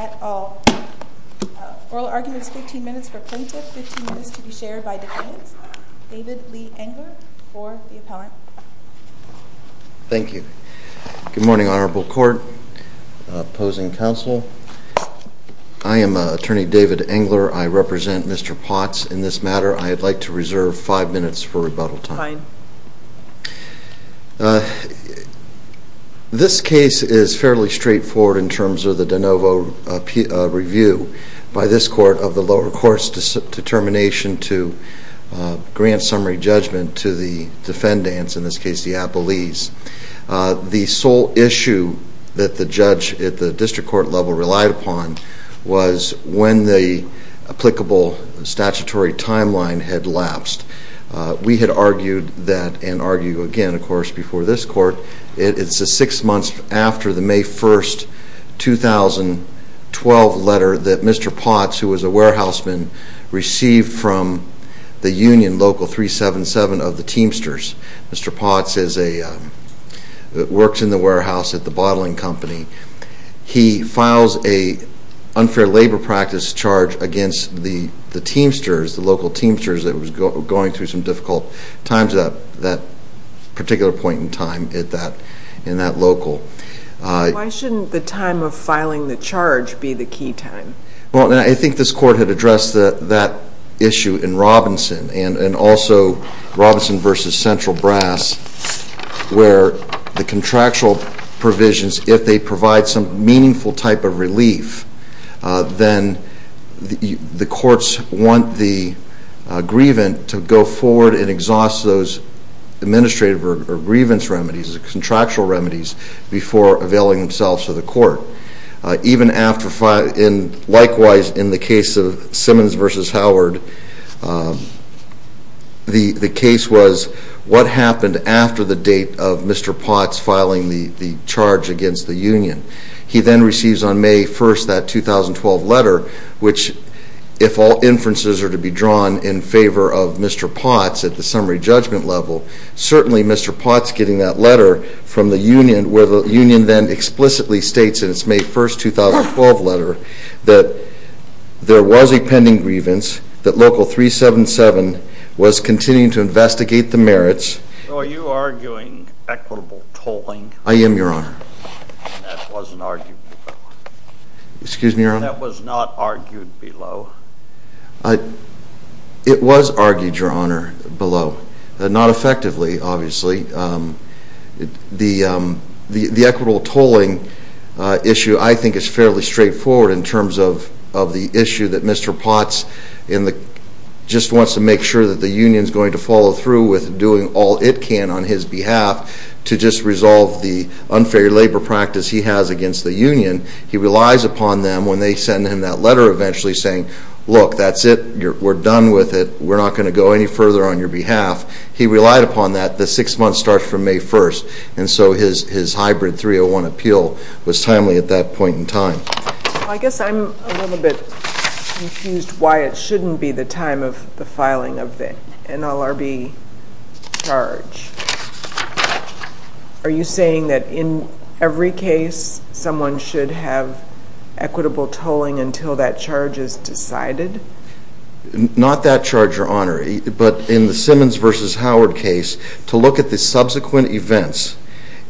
at all. Oral argument is 15 minutes for plaintiff, 15 minutes to be shared by defendants. David Lee Engler for the appellant. Thank you. Good morning, Honorable Court, opposing counsel. I am Attorney David Engler. I represent Mr. Potts in this matter. I'd like to reserve five minutes for rebuttal time. Fine. This case is fairly straightforward in terms of the de novo review by this court of the lower court's determination to grant summary judgment to the defendants, in this case the appellees. The sole issue that the judge at the district court level relied upon was when the applicable statutory timeline had lapsed. We had argued that and argue again, of course, before this court. It's six months after the May 1, 2012 letter that Mr. Potts, who was a warehouseman, received from the union local 377 of the Teamsters. Mr. Potts works in the warehouse at the bottling company. He files an unfair labor practice charge against the Teamsters, the local Teamsters, that was going through some difficult times at that particular point in time in that local. Why shouldn't the time of filing the charge be the key time? Well, I think this court had addressed that issue in Robinson and also in Central Brass, where the contractual provisions, if they provide some meaningful type of relief, then the courts want the grievant to go forward and exhaust those administrative or grievance remedies, the contractual remedies, before availing themselves to the court. Likewise, in the case of Simmons v. Howard, the case was what happened after the date of Mr. Potts filing the charge against the union. He then receives on May 1, that 2012 letter, which if all inferences are to be drawn in favor of Mr. Potts at the summary judgment level, certainly Mr. Potts getting that letter from the union, where the union then explicitly states in its May 1, 2012 letter that there was a pending grievance, that Local 377 was continuing to investigate the merits. So are you arguing equitable tolling? I am, Your Honor. That wasn't argued below. Excuse me, Your Honor? That was not argued below. It was argued, Your Honor, below. Not effectively, obviously. The equitable tolling issue I think is fairly straightforward in terms of the issue that Mr. Potts just wants to make sure that the union is going to follow through with doing all it can on his behalf to just resolve the unfair labor practice he has against the union. He relies upon them when they send him that letter eventually saying, look, that's it. We're done with it. We're not going to go any further on your behalf. He relied upon that. The 6-month starts from May 1, and so his hybrid 301 appeal was timely at that point in time. Well, I guess I'm a little bit confused why it shouldn't be the time of the filing of the NLRB charge. Are you saying that in every case someone should have equitable tolling until that charge is decided? Not that charge, Your Honor, but in the Simmons v. Howard case, to look at the subsequent events,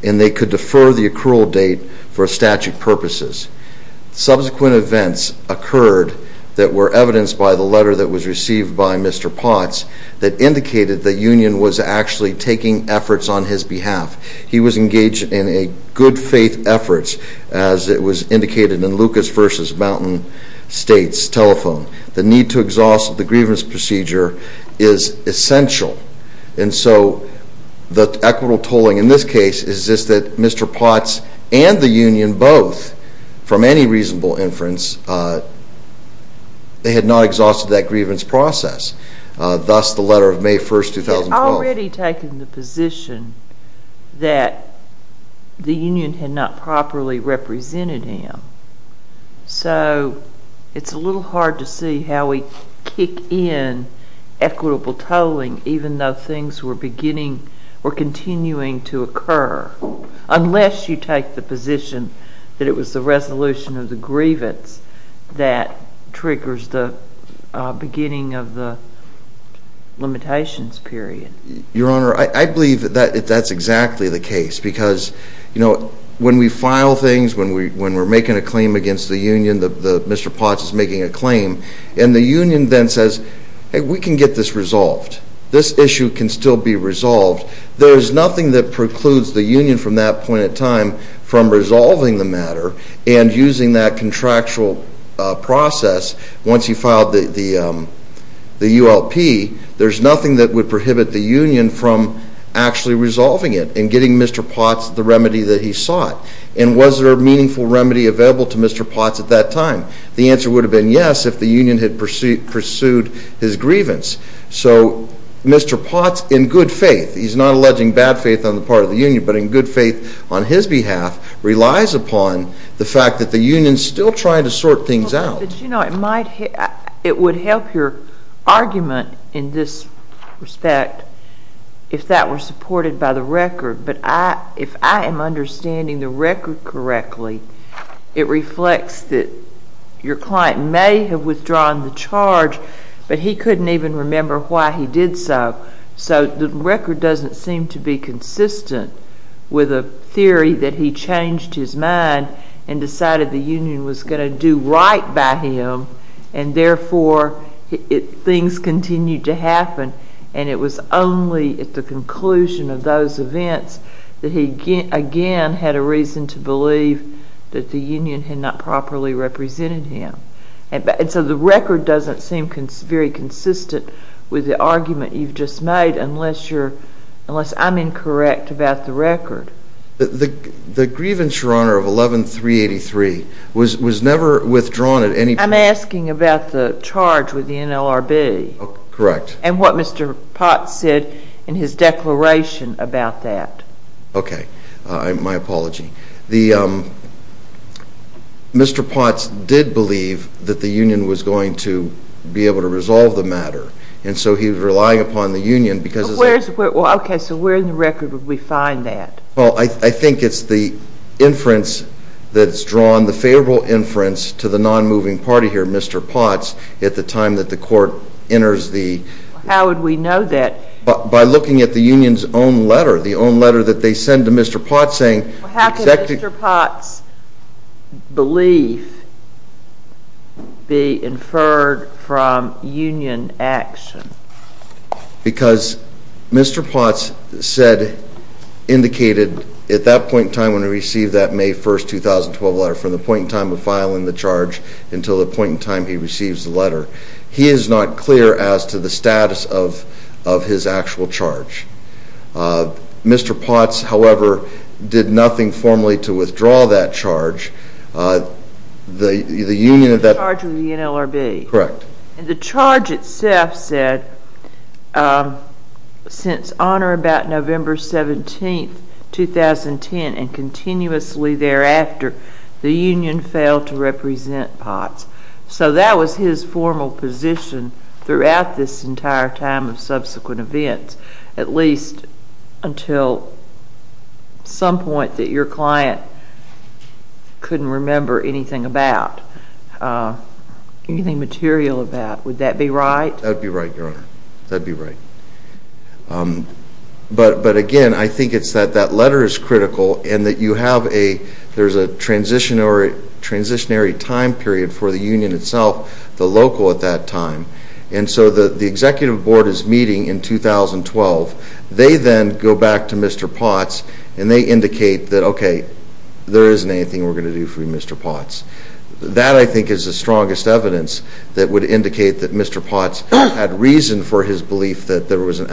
and they could defer the accrual date for statute purposes. Subsequent events occurred that were evidenced by the letter that was received by Mr. Potts that indicated that the union was actually taking efforts on his behalf. He was engaged in good faith efforts as it was indicated in Lucas v. Mountain State's telephone. The need to exhaust the grievance procedure is essential, and so the equitable tolling in this case is just that Mr. Potts and the union both, from any reasonable inference, had not exhausted that grievance process. Thus, the letter of May 1, 2012. He had already taken the position that the union had not properly represented him, so it's a little hard to see how we kick in equitable tolling even though things were continuing to occur, unless you take the position that it was the resolution of the grievance that triggers the beginning of the limitations period. Your Honor, I believe that that's exactly the case because, you know, when we file things, when we're making a claim against the union, Mr. Potts is making a claim, and the union then says, hey, we can get this resolved. This issue can still be resolved. There is nothing that precludes the union from that point in time from resolving the matter and using that contractual process. Once he filed the ULP, there's nothing that would prohibit the union from actually resolving it and getting Mr. Potts the remedy that he sought. And was there a meaningful remedy available to Mr. Potts at that time? The answer would have been yes if the union had pursued his grievance. So Mr. Potts, in good faith, he's not alleging bad faith on the part of the union, but in good faith on his behalf, relies upon the fact that the union's still trying to sort things out. But, you know, it might, it would help your argument in this respect if that were supported by the record. But I, if I am understanding the record correctly, it reflects that your client may have withdrawn the charge, but he couldn't even remember why he did so. So the record doesn't seem to be consistent with a theory that he changed his mind and decided the union was going to do right by him, and therefore things continued to happen, and it was only at the conclusion of those events that he again had a reason to believe that the union had not properly represented him. And so the record doesn't seem very consistent with the argument you've just made, unless you're, unless I'm incorrect about the record. The grievance, Your Honor, of 11383 was never withdrawn at any point. I'm asking about the charge with the NLRB. Correct. And what Mr. Potts said in his declaration about that. Okay. My apology. The, um, Mr. Potts did believe that the union was going to be able to resolve the matter, and so he was relying upon the union because... But where's, well, okay, so where in the record would we find that? Well, I think it's the inference that's drawn, the favorable inference to the non-moving party here, Mr. Potts, at the time that the court enters the... How would we know that? By looking at the union's own letter, the own letter that they send to Mr. Potts saying... How could Mr. Potts' belief be inferred from union action? Because Mr. Potts said, indicated, at that point in time when he received that May 1st, 2012 letter, from the point in time of filing the charge until the point in time he receives the letter, he is not clear as to the status of his actual charge. Mr. Potts, however, did nothing formally to withdraw that charge. The union... The charge of the NLRB. Correct. And the charge itself said, since honor about November 17th, 2010, and continuously thereafter, the union failed to represent Potts. So that was his formal position throughout this entire time of subsequent events, at least until some point that your client couldn't remember anything about, anything material about. Would that be right? That would be right, Your Honor. That would be right. But again, I think it's that that letter is critical, and that you have a... There's a transitionary time period for the executive board is meeting in 2012. They then go back to Mr. Potts, and they indicate that, okay, there isn't anything we're going to do for Mr. Potts. That, I think, is the strongest evidence that would indicate that Mr. Potts had reason for his belief that there was an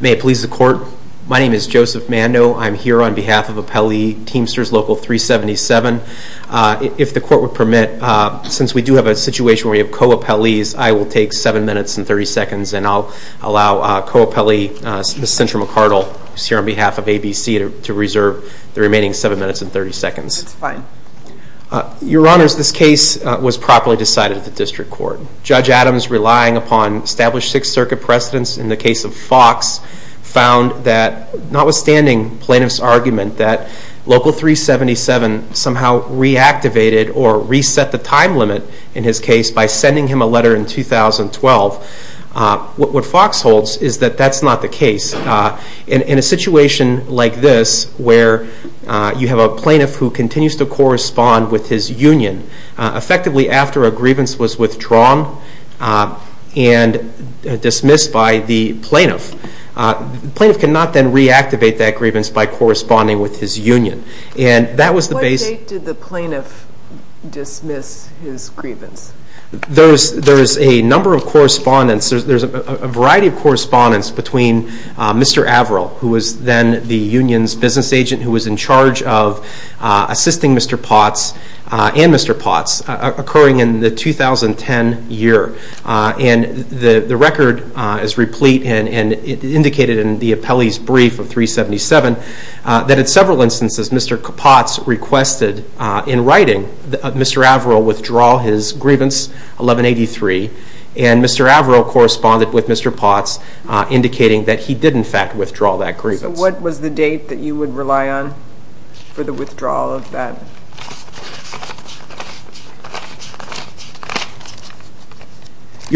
May it please the court. My name is Joseph Mando. I'm here on behalf of Appellee Teamsters Local 377. If the court would permit, since we do have a situation where we have co-appellees, I will take 7 minutes and 30 seconds, and I'll allow co-appellee Ms. Cintra McCardle, who's here on behalf of ABC, to reserve the remaining 7 minutes and 30 seconds. Your Honors, this case was properly decided at the district court. Judge Adams, relying upon established Sixth Circuit precedence in the case of Fox, found that notwithstanding plaintiff's argument that Local 377 somehow reactivated or reset the time limit in his case by sending him a letter in 2012, what Fox holds is that that's not the case. In a situation like this, where you have a plaintiff who continues to correspond with his union, effectively after a grievance was withdrawn and dismissed by the plaintiff, the plaintiff cannot then reactivate that grievance by corresponding with his union. What date did the plaintiff dismiss his grievance? There's a number of correspondence. There's a variety of correspondence between Mr. Averill, who was then the union's business agent, who was in charge of assisting Mr. Potts and Mr. Potts, occurring in the 2010 year. And the record is replete, and indicated in the appellee's brief of 377, that in several instances Mr. Potts requested in writing that Mr. Averill withdraw his grievance, 1183, and Mr. Averill corresponded with Mr. Potts, indicating that he did, in fact, withdraw that grievance. What was the date that you would rely on for the withdrawal of that?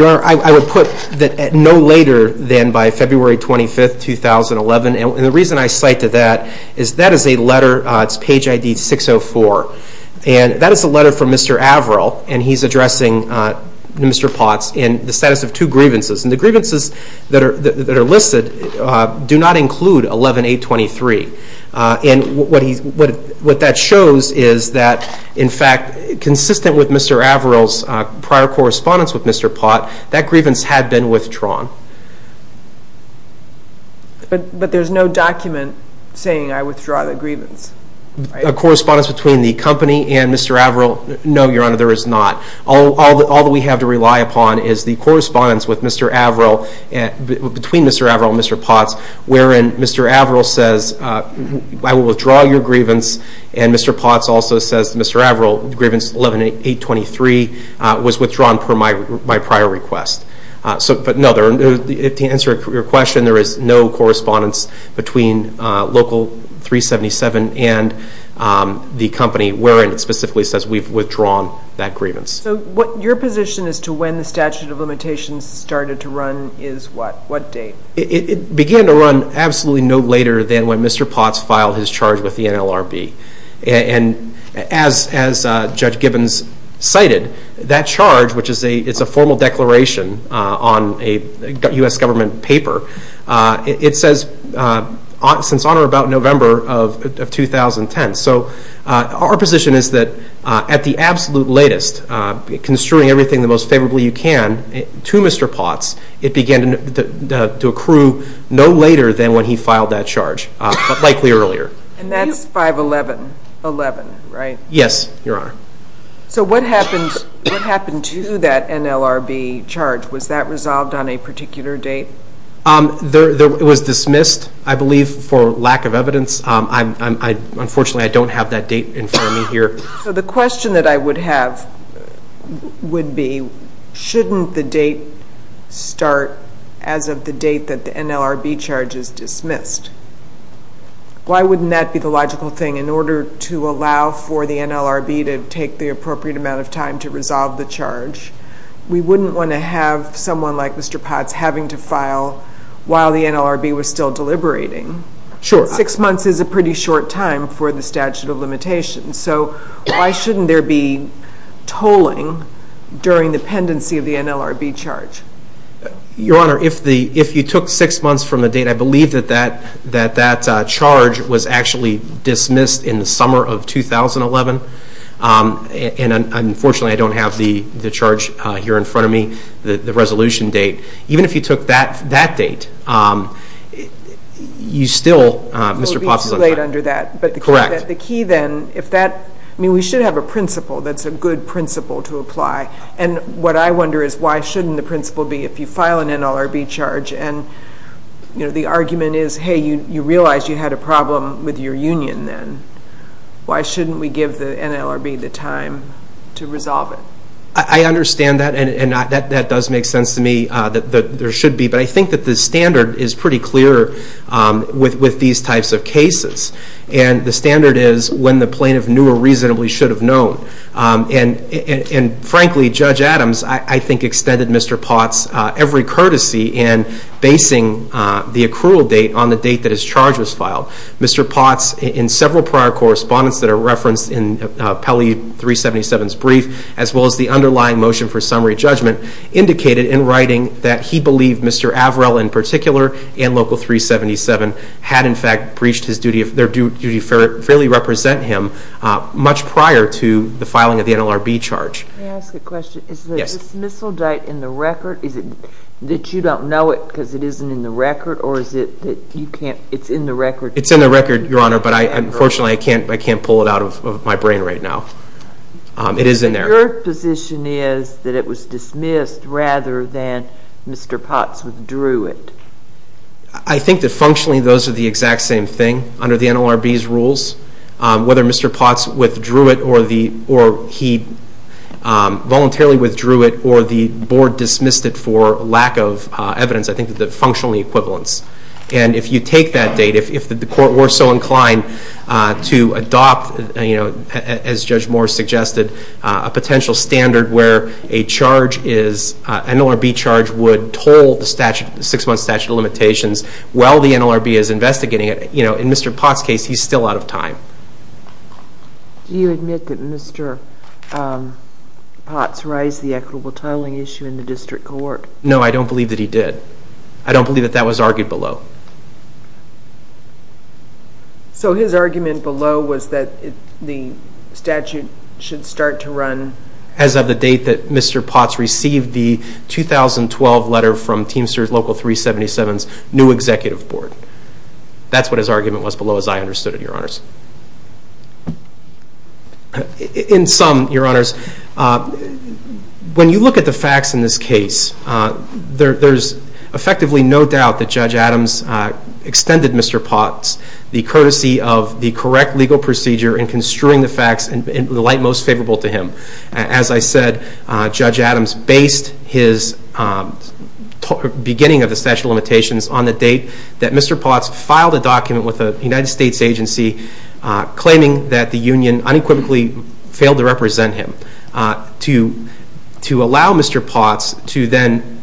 I would put that no later than by February 25, 2011. And the reason I cite to that is that is a letter, it's page ID 604, and that is a letter from Mr. Averill, and he's addressing Mr. Potts in the status of two grievances. And the grievances that are listed do not include 11823. And what that shows is that, in fact, consistent with Mr. Averill's prior correspondence with Mr. Potts, that grievance had been withdrawn. But there's no document saying, I withdraw the grievance, right? The correspondence between the company and Mr. Averill, no, Your Honor, there is not. All that we have to rely upon is the correspondence between Mr. Averill and Mr. Potts, wherein Mr. Averill says, I will withdraw your grievance, and Mr. Potts also says to Mr. Averill, the grievance 11823 was withdrawn per my prior request. But, no, to answer your question, there is no correspondence between Local 377 and the company, wherein it specifically says we've withdrawn that grievance. So your position as to when the statute of limitations started to run is what? What date? It began to run absolutely no later than when Mr. Potts filed his charge with the NLRB. And as Judge Gibbons cited, that charge, which is a formal declaration on a U.S. government paper, it says since on or about November of 2010. So our position is that at the absolute latest, construing everything the most favorably you can to Mr. Potts, it began to accrue no later than when he filed that charge, but likely earlier. And that's 5-11-11, right? Yes, Your Honor. So what happened to that NLRB charge? Was that resolved on a particular date? It was dismissed, I believe, for lack of evidence. Unfortunately, I don't have that date in front of me here. So the question that I would have would be, shouldn't the date start as of the date that the NLRB charge is dismissed? Why wouldn't that be the logical thing? In order to allow for the NLRB to take the appropriate amount of time to resolve the charge, we wouldn't want to have someone like Mr. Potts having to file while the NLRB was still deliberating. Sure. Six months is a pretty short time for the statute of limitations. So why shouldn't there be tolling during the pendency of the NLRB charge? Your Honor, if you took six months from the date, I believe that that charge was actually dismissed in the summer of 2011. And unfortunately, I don't have the charge here in front of me, the resolution date. Even if you took that date, you still, Mr. Potts is on trial. It would be too late under that. Correct. But the key then, if that, I mean, we should have a principle that's a good principle to apply. And what I wonder is why shouldn't the principle be if you file an NLRB charge and the argument is, hey, you realize you had a problem with your union then. Why shouldn't we give the NLRB the time to resolve it? I understand that, and that does make sense to me that there should be. But I think that the standard is pretty clear with these types of cases. And the standard is when the plaintiff knew or reasonably should have known. And, frankly, Judge Adams, I think, extended Mr. Potts every courtesy in basing the accrual date on the date that his charge was filed. Mr. Potts, in several prior correspondence that are referenced in Pelley 377's brief, as well as the underlying motion for summary judgment, indicated in writing that he believed Mr. Averell in particular and Local 377 had, in fact, breached their duty to fairly represent him much prior to the filing of the NLRB charge. May I ask a question? Yes. Is the dismissal date in the record? Is it that you don't know it because it isn't in the record? Or is it that it's in the record? It's in the record, Your Honor, but, unfortunately, I can't pull it out of my brain right now. It is in there. Your position is that it was dismissed rather than Mr. Potts withdrew it. Whether Mr. Potts withdrew it or he voluntarily withdrew it or the Board dismissed it for lack of evidence, I think the functional equivalence. And if you take that date, if the Court were so inclined to adopt, as Judge Moore suggested, a potential standard where an NLRB charge would toll the 6-month statute of limitations while the NLRB is investigating it, in Mr. Potts' case, he's still out of time. Do you admit that Mr. Potts raised the equitable titling issue in the district court? No, I don't believe that he did. I don't believe that that was argued below. So his argument below was that the statute should start to run? As of the date that Mr. Potts received the 2012 letter from Teamster Local 377's new executive board. That's what his argument was below, as I understood it, Your Honors. In sum, Your Honors, when you look at the facts in this case, there's effectively no doubt that Judge Adams extended Mr. Potts the courtesy of the correct legal procedure in construing the facts in the light most favorable to him. As I said, Judge Adams based his beginning of the statute of limitations on the date that Mr. Potts filed a document with a United States agency claiming that the union unequivocally failed to represent him. To allow Mr. Potts to then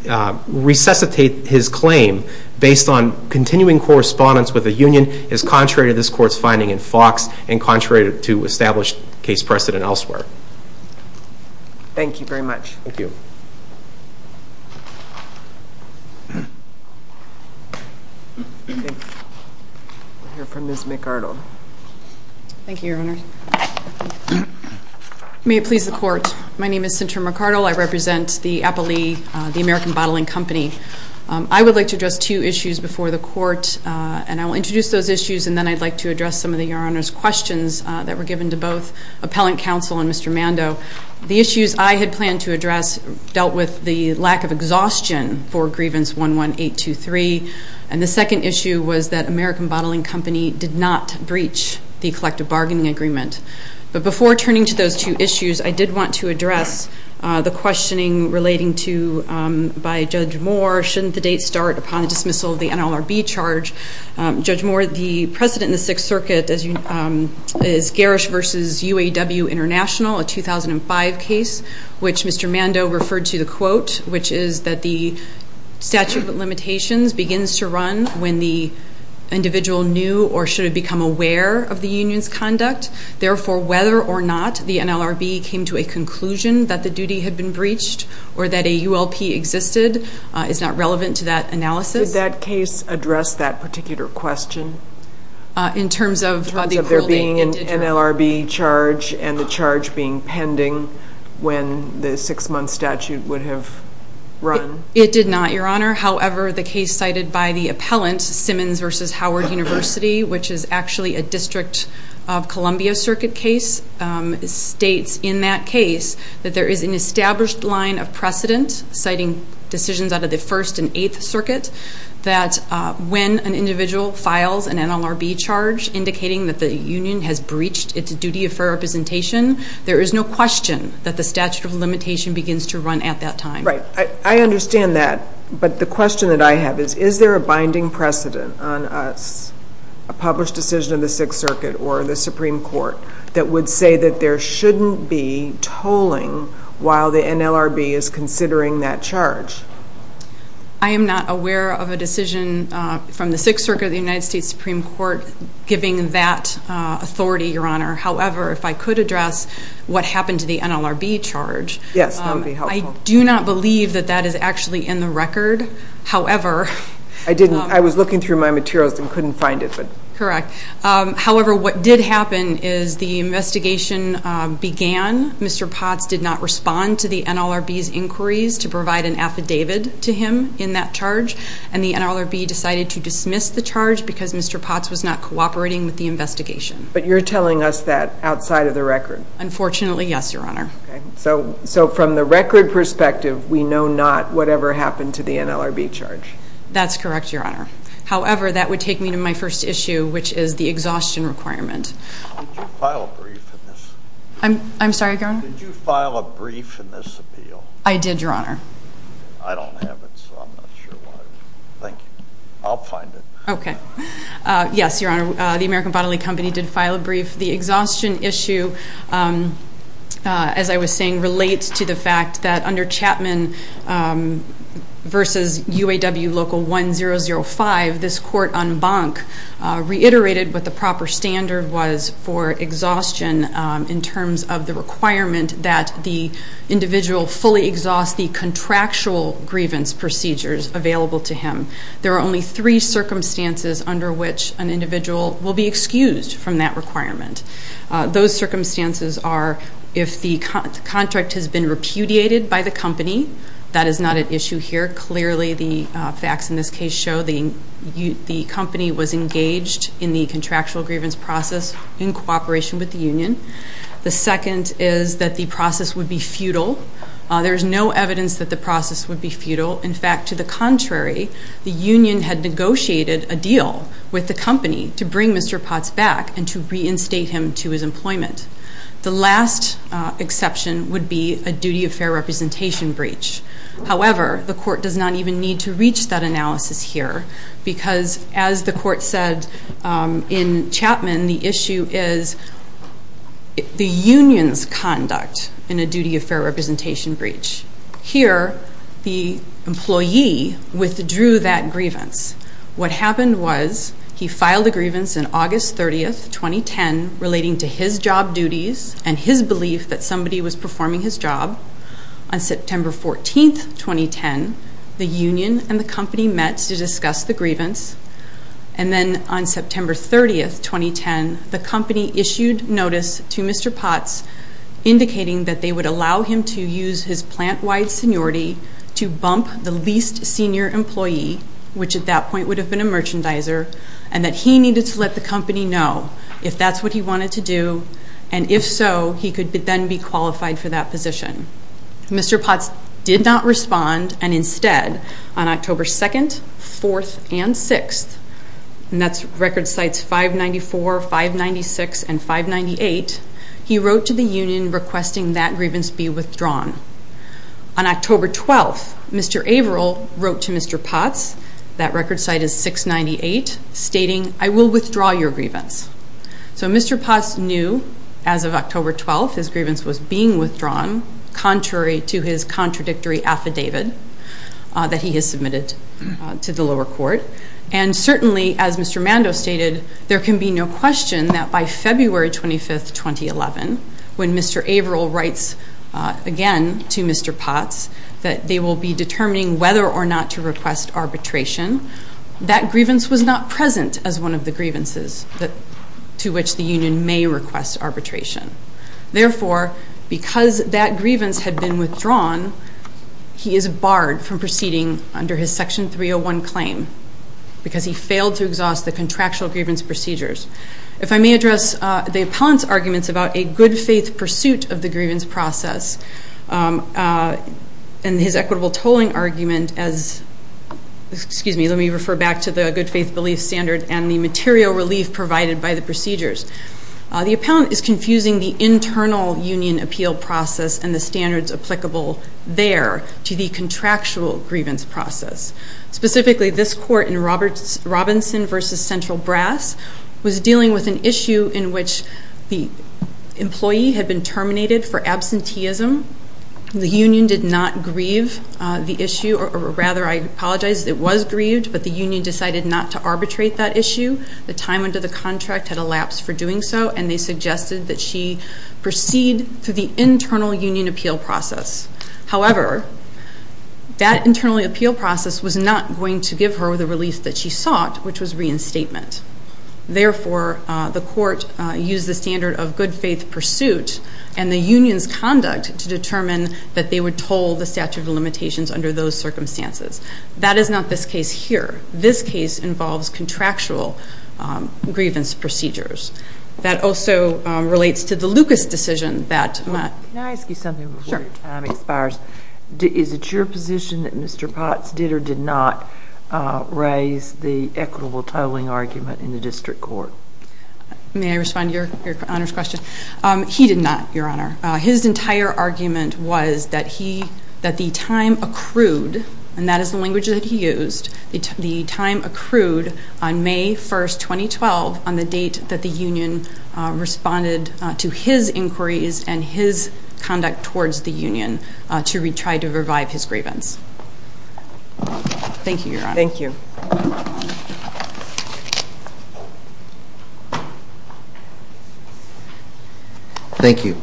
resuscitate his claim based on continuing correspondence with the union is contrary to this court's finding in Fox and contrary to established case precedent elsewhere. Thank you very much. Thank you. We'll hear from Ms. McArdle. Thank you, Your Honors. May it please the court, my name is Cynthia McArdle. I represent the Appalee, the American Bottling Company. I would like to address two issues before the court and I will introduce those issues and then I'd like to address some of the Your Honors questions that were given to both Appellant Counsel and Mr. Mando. The issues I had planned to address dealt with the lack of exhaustion for Grievance 11823 and the second issue was that American Bottling Company did not breach the collective bargaining agreement. But before turning to those two issues, I did want to address the questioning relating to, by Judge Moore, shouldn't the date start upon the dismissal of the NLRB charge? Judge Moore, the precedent in the Sixth Circuit is Garish v. UAW International, a 2005 case, which Mr. Mando referred to the quote, which is that the statute of limitations begins to run when the individual knew or should have become aware of the union's conduct. Therefore, whether or not the NLRB came to a conclusion that the duty had been breached or that a ULP existed is not relevant to that analysis. Did that case address that particular question? In terms of there being an NLRB charge and the charge being pending when the six-month statute would have run? It did not, Your Honor. However, the case cited by the appellant, Simmons v. Howard University, which is actually a District of Columbia Circuit case, states in that case that there is an established line of precedent citing decisions out of the First and Eighth Circuit that when an individual files an NLRB charge indicating that the union has breached its duty of fair representation, there is no question that the statute of limitation begins to run at that time. Right. I understand that. But the question that I have is, is there a binding precedent on a published decision of the Sixth Circuit or the Supreme Court that would say that there shouldn't be tolling while the NLRB is considering that charge? I am not aware of a decision from the Sixth Circuit or the United States Supreme Court giving that authority, Your Honor. However, if I could address what happened to the NLRB charge. Yes, that would be helpful. I do not believe that that is actually in the record. However, I was looking through my materials and couldn't find it. Correct. However, what did happen is the investigation began. Mr. Potts did not respond to the NLRB's inquiries to provide an affidavit to him in that charge, and the NLRB decided to dismiss the charge because Mr. Potts was not cooperating with the investigation. But you're telling us that outside of the record? Unfortunately, yes, Your Honor. Okay. So from the record perspective, we know not whatever happened to the NLRB charge? That's correct, Your Honor. However, that would take me to my first issue, which is the exhaustion requirement. Did you file a brief in this? I'm sorry, Your Honor? Did you file a brief in this appeal? I did, Your Honor. I don't have it, so I'm not sure why. Thank you. Okay. Yes, Your Honor. The American Bodily Company did file a brief. The exhaustion issue, as I was saying, relates to the fact that under Chapman v. UAW Local 1005, this court en banc reiterated what the proper standard was for exhaustion in terms of the requirement that the individual fully exhaust the contractual grievance procedures available to him. There are only three circumstances under which an individual will be excused from that requirement. Those circumstances are if the contract has been repudiated by the company. That is not at issue here. Clearly, the facts in this case show the company was engaged in the contractual grievance process in cooperation with the union. The second is that the process would be futile. There is no evidence that the process would be futile. In fact, to the contrary, the union had negotiated a deal with the company to bring Mr. Potts back and to reinstate him to his employment. The last exception would be a duty of fair representation breach. However, the court does not even need to reach that analysis here because, as the court said in Chapman, the issue is the union's conduct in a duty of fair representation breach. Here, the employee withdrew that grievance. What happened was he filed a grievance on August 30, 2010, relating to his job duties and his belief that somebody was performing his job. On September 14, 2010, the union and the company met to discuss the grievance. And then on September 30, 2010, the company issued notice to Mr. Potts indicating that they would allow him to use his plant-wide seniority to bump the least senior employee, which at that point would have been a merchandiser, and that he needed to let the company know if that's what he wanted to do, and if so, he could then be qualified for that position. Mr. Potts did not respond, and instead, on October 2, 4, and 6, and that's record sites 594, 596, and 598, he wrote to the union requesting that grievance be withdrawn. On October 12, Mr. Averill wrote to Mr. Potts, that record site is 698, stating, I will withdraw your grievance. So Mr. Potts knew, as of October 12, his grievance was being withdrawn, contrary to his contradictory affidavit that he has submitted to the lower court, and certainly, as Mr. Mando stated, there can be no question that by February 25, 2011, when Mr. Averill writes again to Mr. Potts that they will be determining whether or not to request arbitration, that grievance was not present as one of the grievances to which the union may request arbitration. Therefore, because that grievance had been withdrawn, he is barred from proceeding under his Section 301 claim, because he failed to exhaust the contractual grievance procedures. If I may address the appellant's arguments about a good faith pursuit of the grievance process, and his equitable tolling argument as, excuse me, let me refer back to the good faith belief standard and the material relief provided by the procedures. The appellant is confusing the internal union appeal process and the standards applicable there to the contractual grievance process. Specifically, this court in Robinson v. Central Brass was dealing with an issue in which the employee had been terminated for absenteeism. The union did not grieve the issue, or rather, I apologize, it was grieved, but the union decided not to arbitrate that issue. The time under the contract had elapsed for doing so, and they suggested that she proceed through the internal union appeal process. However, that internal appeal process was not going to give her the relief that she sought, which was reinstatement. Therefore, the court used the standard of good faith pursuit and the union's conduct to determine that they would toll the statute of limitations under those circumstances. That is not this case here. This case involves contractual grievance procedures. That also relates to the Lucas decision that- Can I ask you something before your time expires? Sure. Is it your position that Mr. Potts did or did not raise the equitable tolling argument in the district court? May I respond to Your Honor's question? He did not, Your Honor. His entire argument was that the time accrued, and that is the language that he used, the time accrued on May 1, 2012 on the date that the union responded to his inquiries and his conduct towards the union to try to revive his grievance. Thank you, Your Honor. Thank you. Thank you.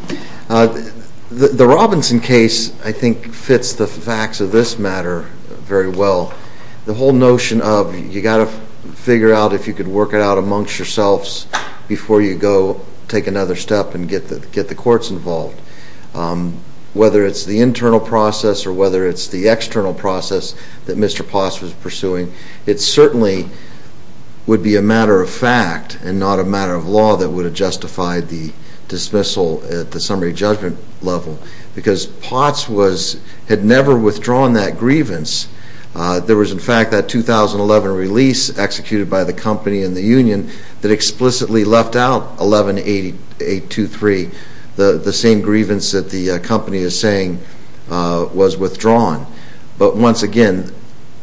The Robinson case, I think, fits the facts of this matter very well. The whole notion of you've got to figure out if you can work it out amongst yourselves before you go take another step and get the courts involved, whether it's the internal process or whether it's the external process that Mr. Potts was pursuing, it certainly would be a matter of fact and not a matter of law that would have justified the dismissal at the summary judgment level because Potts had never withdrawn that grievance. There was, in fact, that 2011 release executed by the company and the union that explicitly left out 118823, the same grievance that the company is saying was withdrawn. But once again,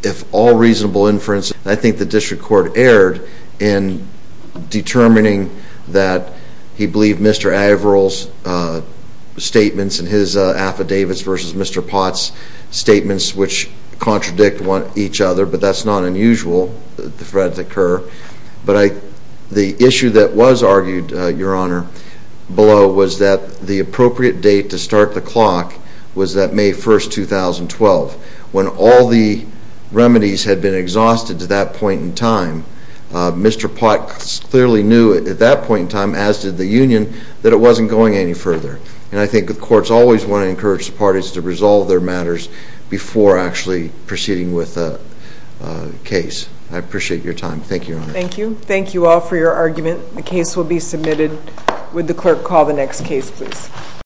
if all reasonable inference, I think the district court erred in determining that he believed Mr. Averill's statements and his affidavits versus Mr. Potts' statements, which contradict each other, but that's not unusual, the threats occur. But the issue that was argued, Your Honor, below was that the appropriate date to start the clock was that May 1, 2012. When all the remedies had been exhausted to that point in time, Mr. Potts clearly knew at that point in time, as did the union, that it wasn't going any further. And I think the courts always want to encourage the parties to resolve their matters before actually proceeding with a case. I appreciate your time. Thank you, Your Honor. Thank you. Thank you all for your argument. The case will be submitted. Would the clerk call the next case, please?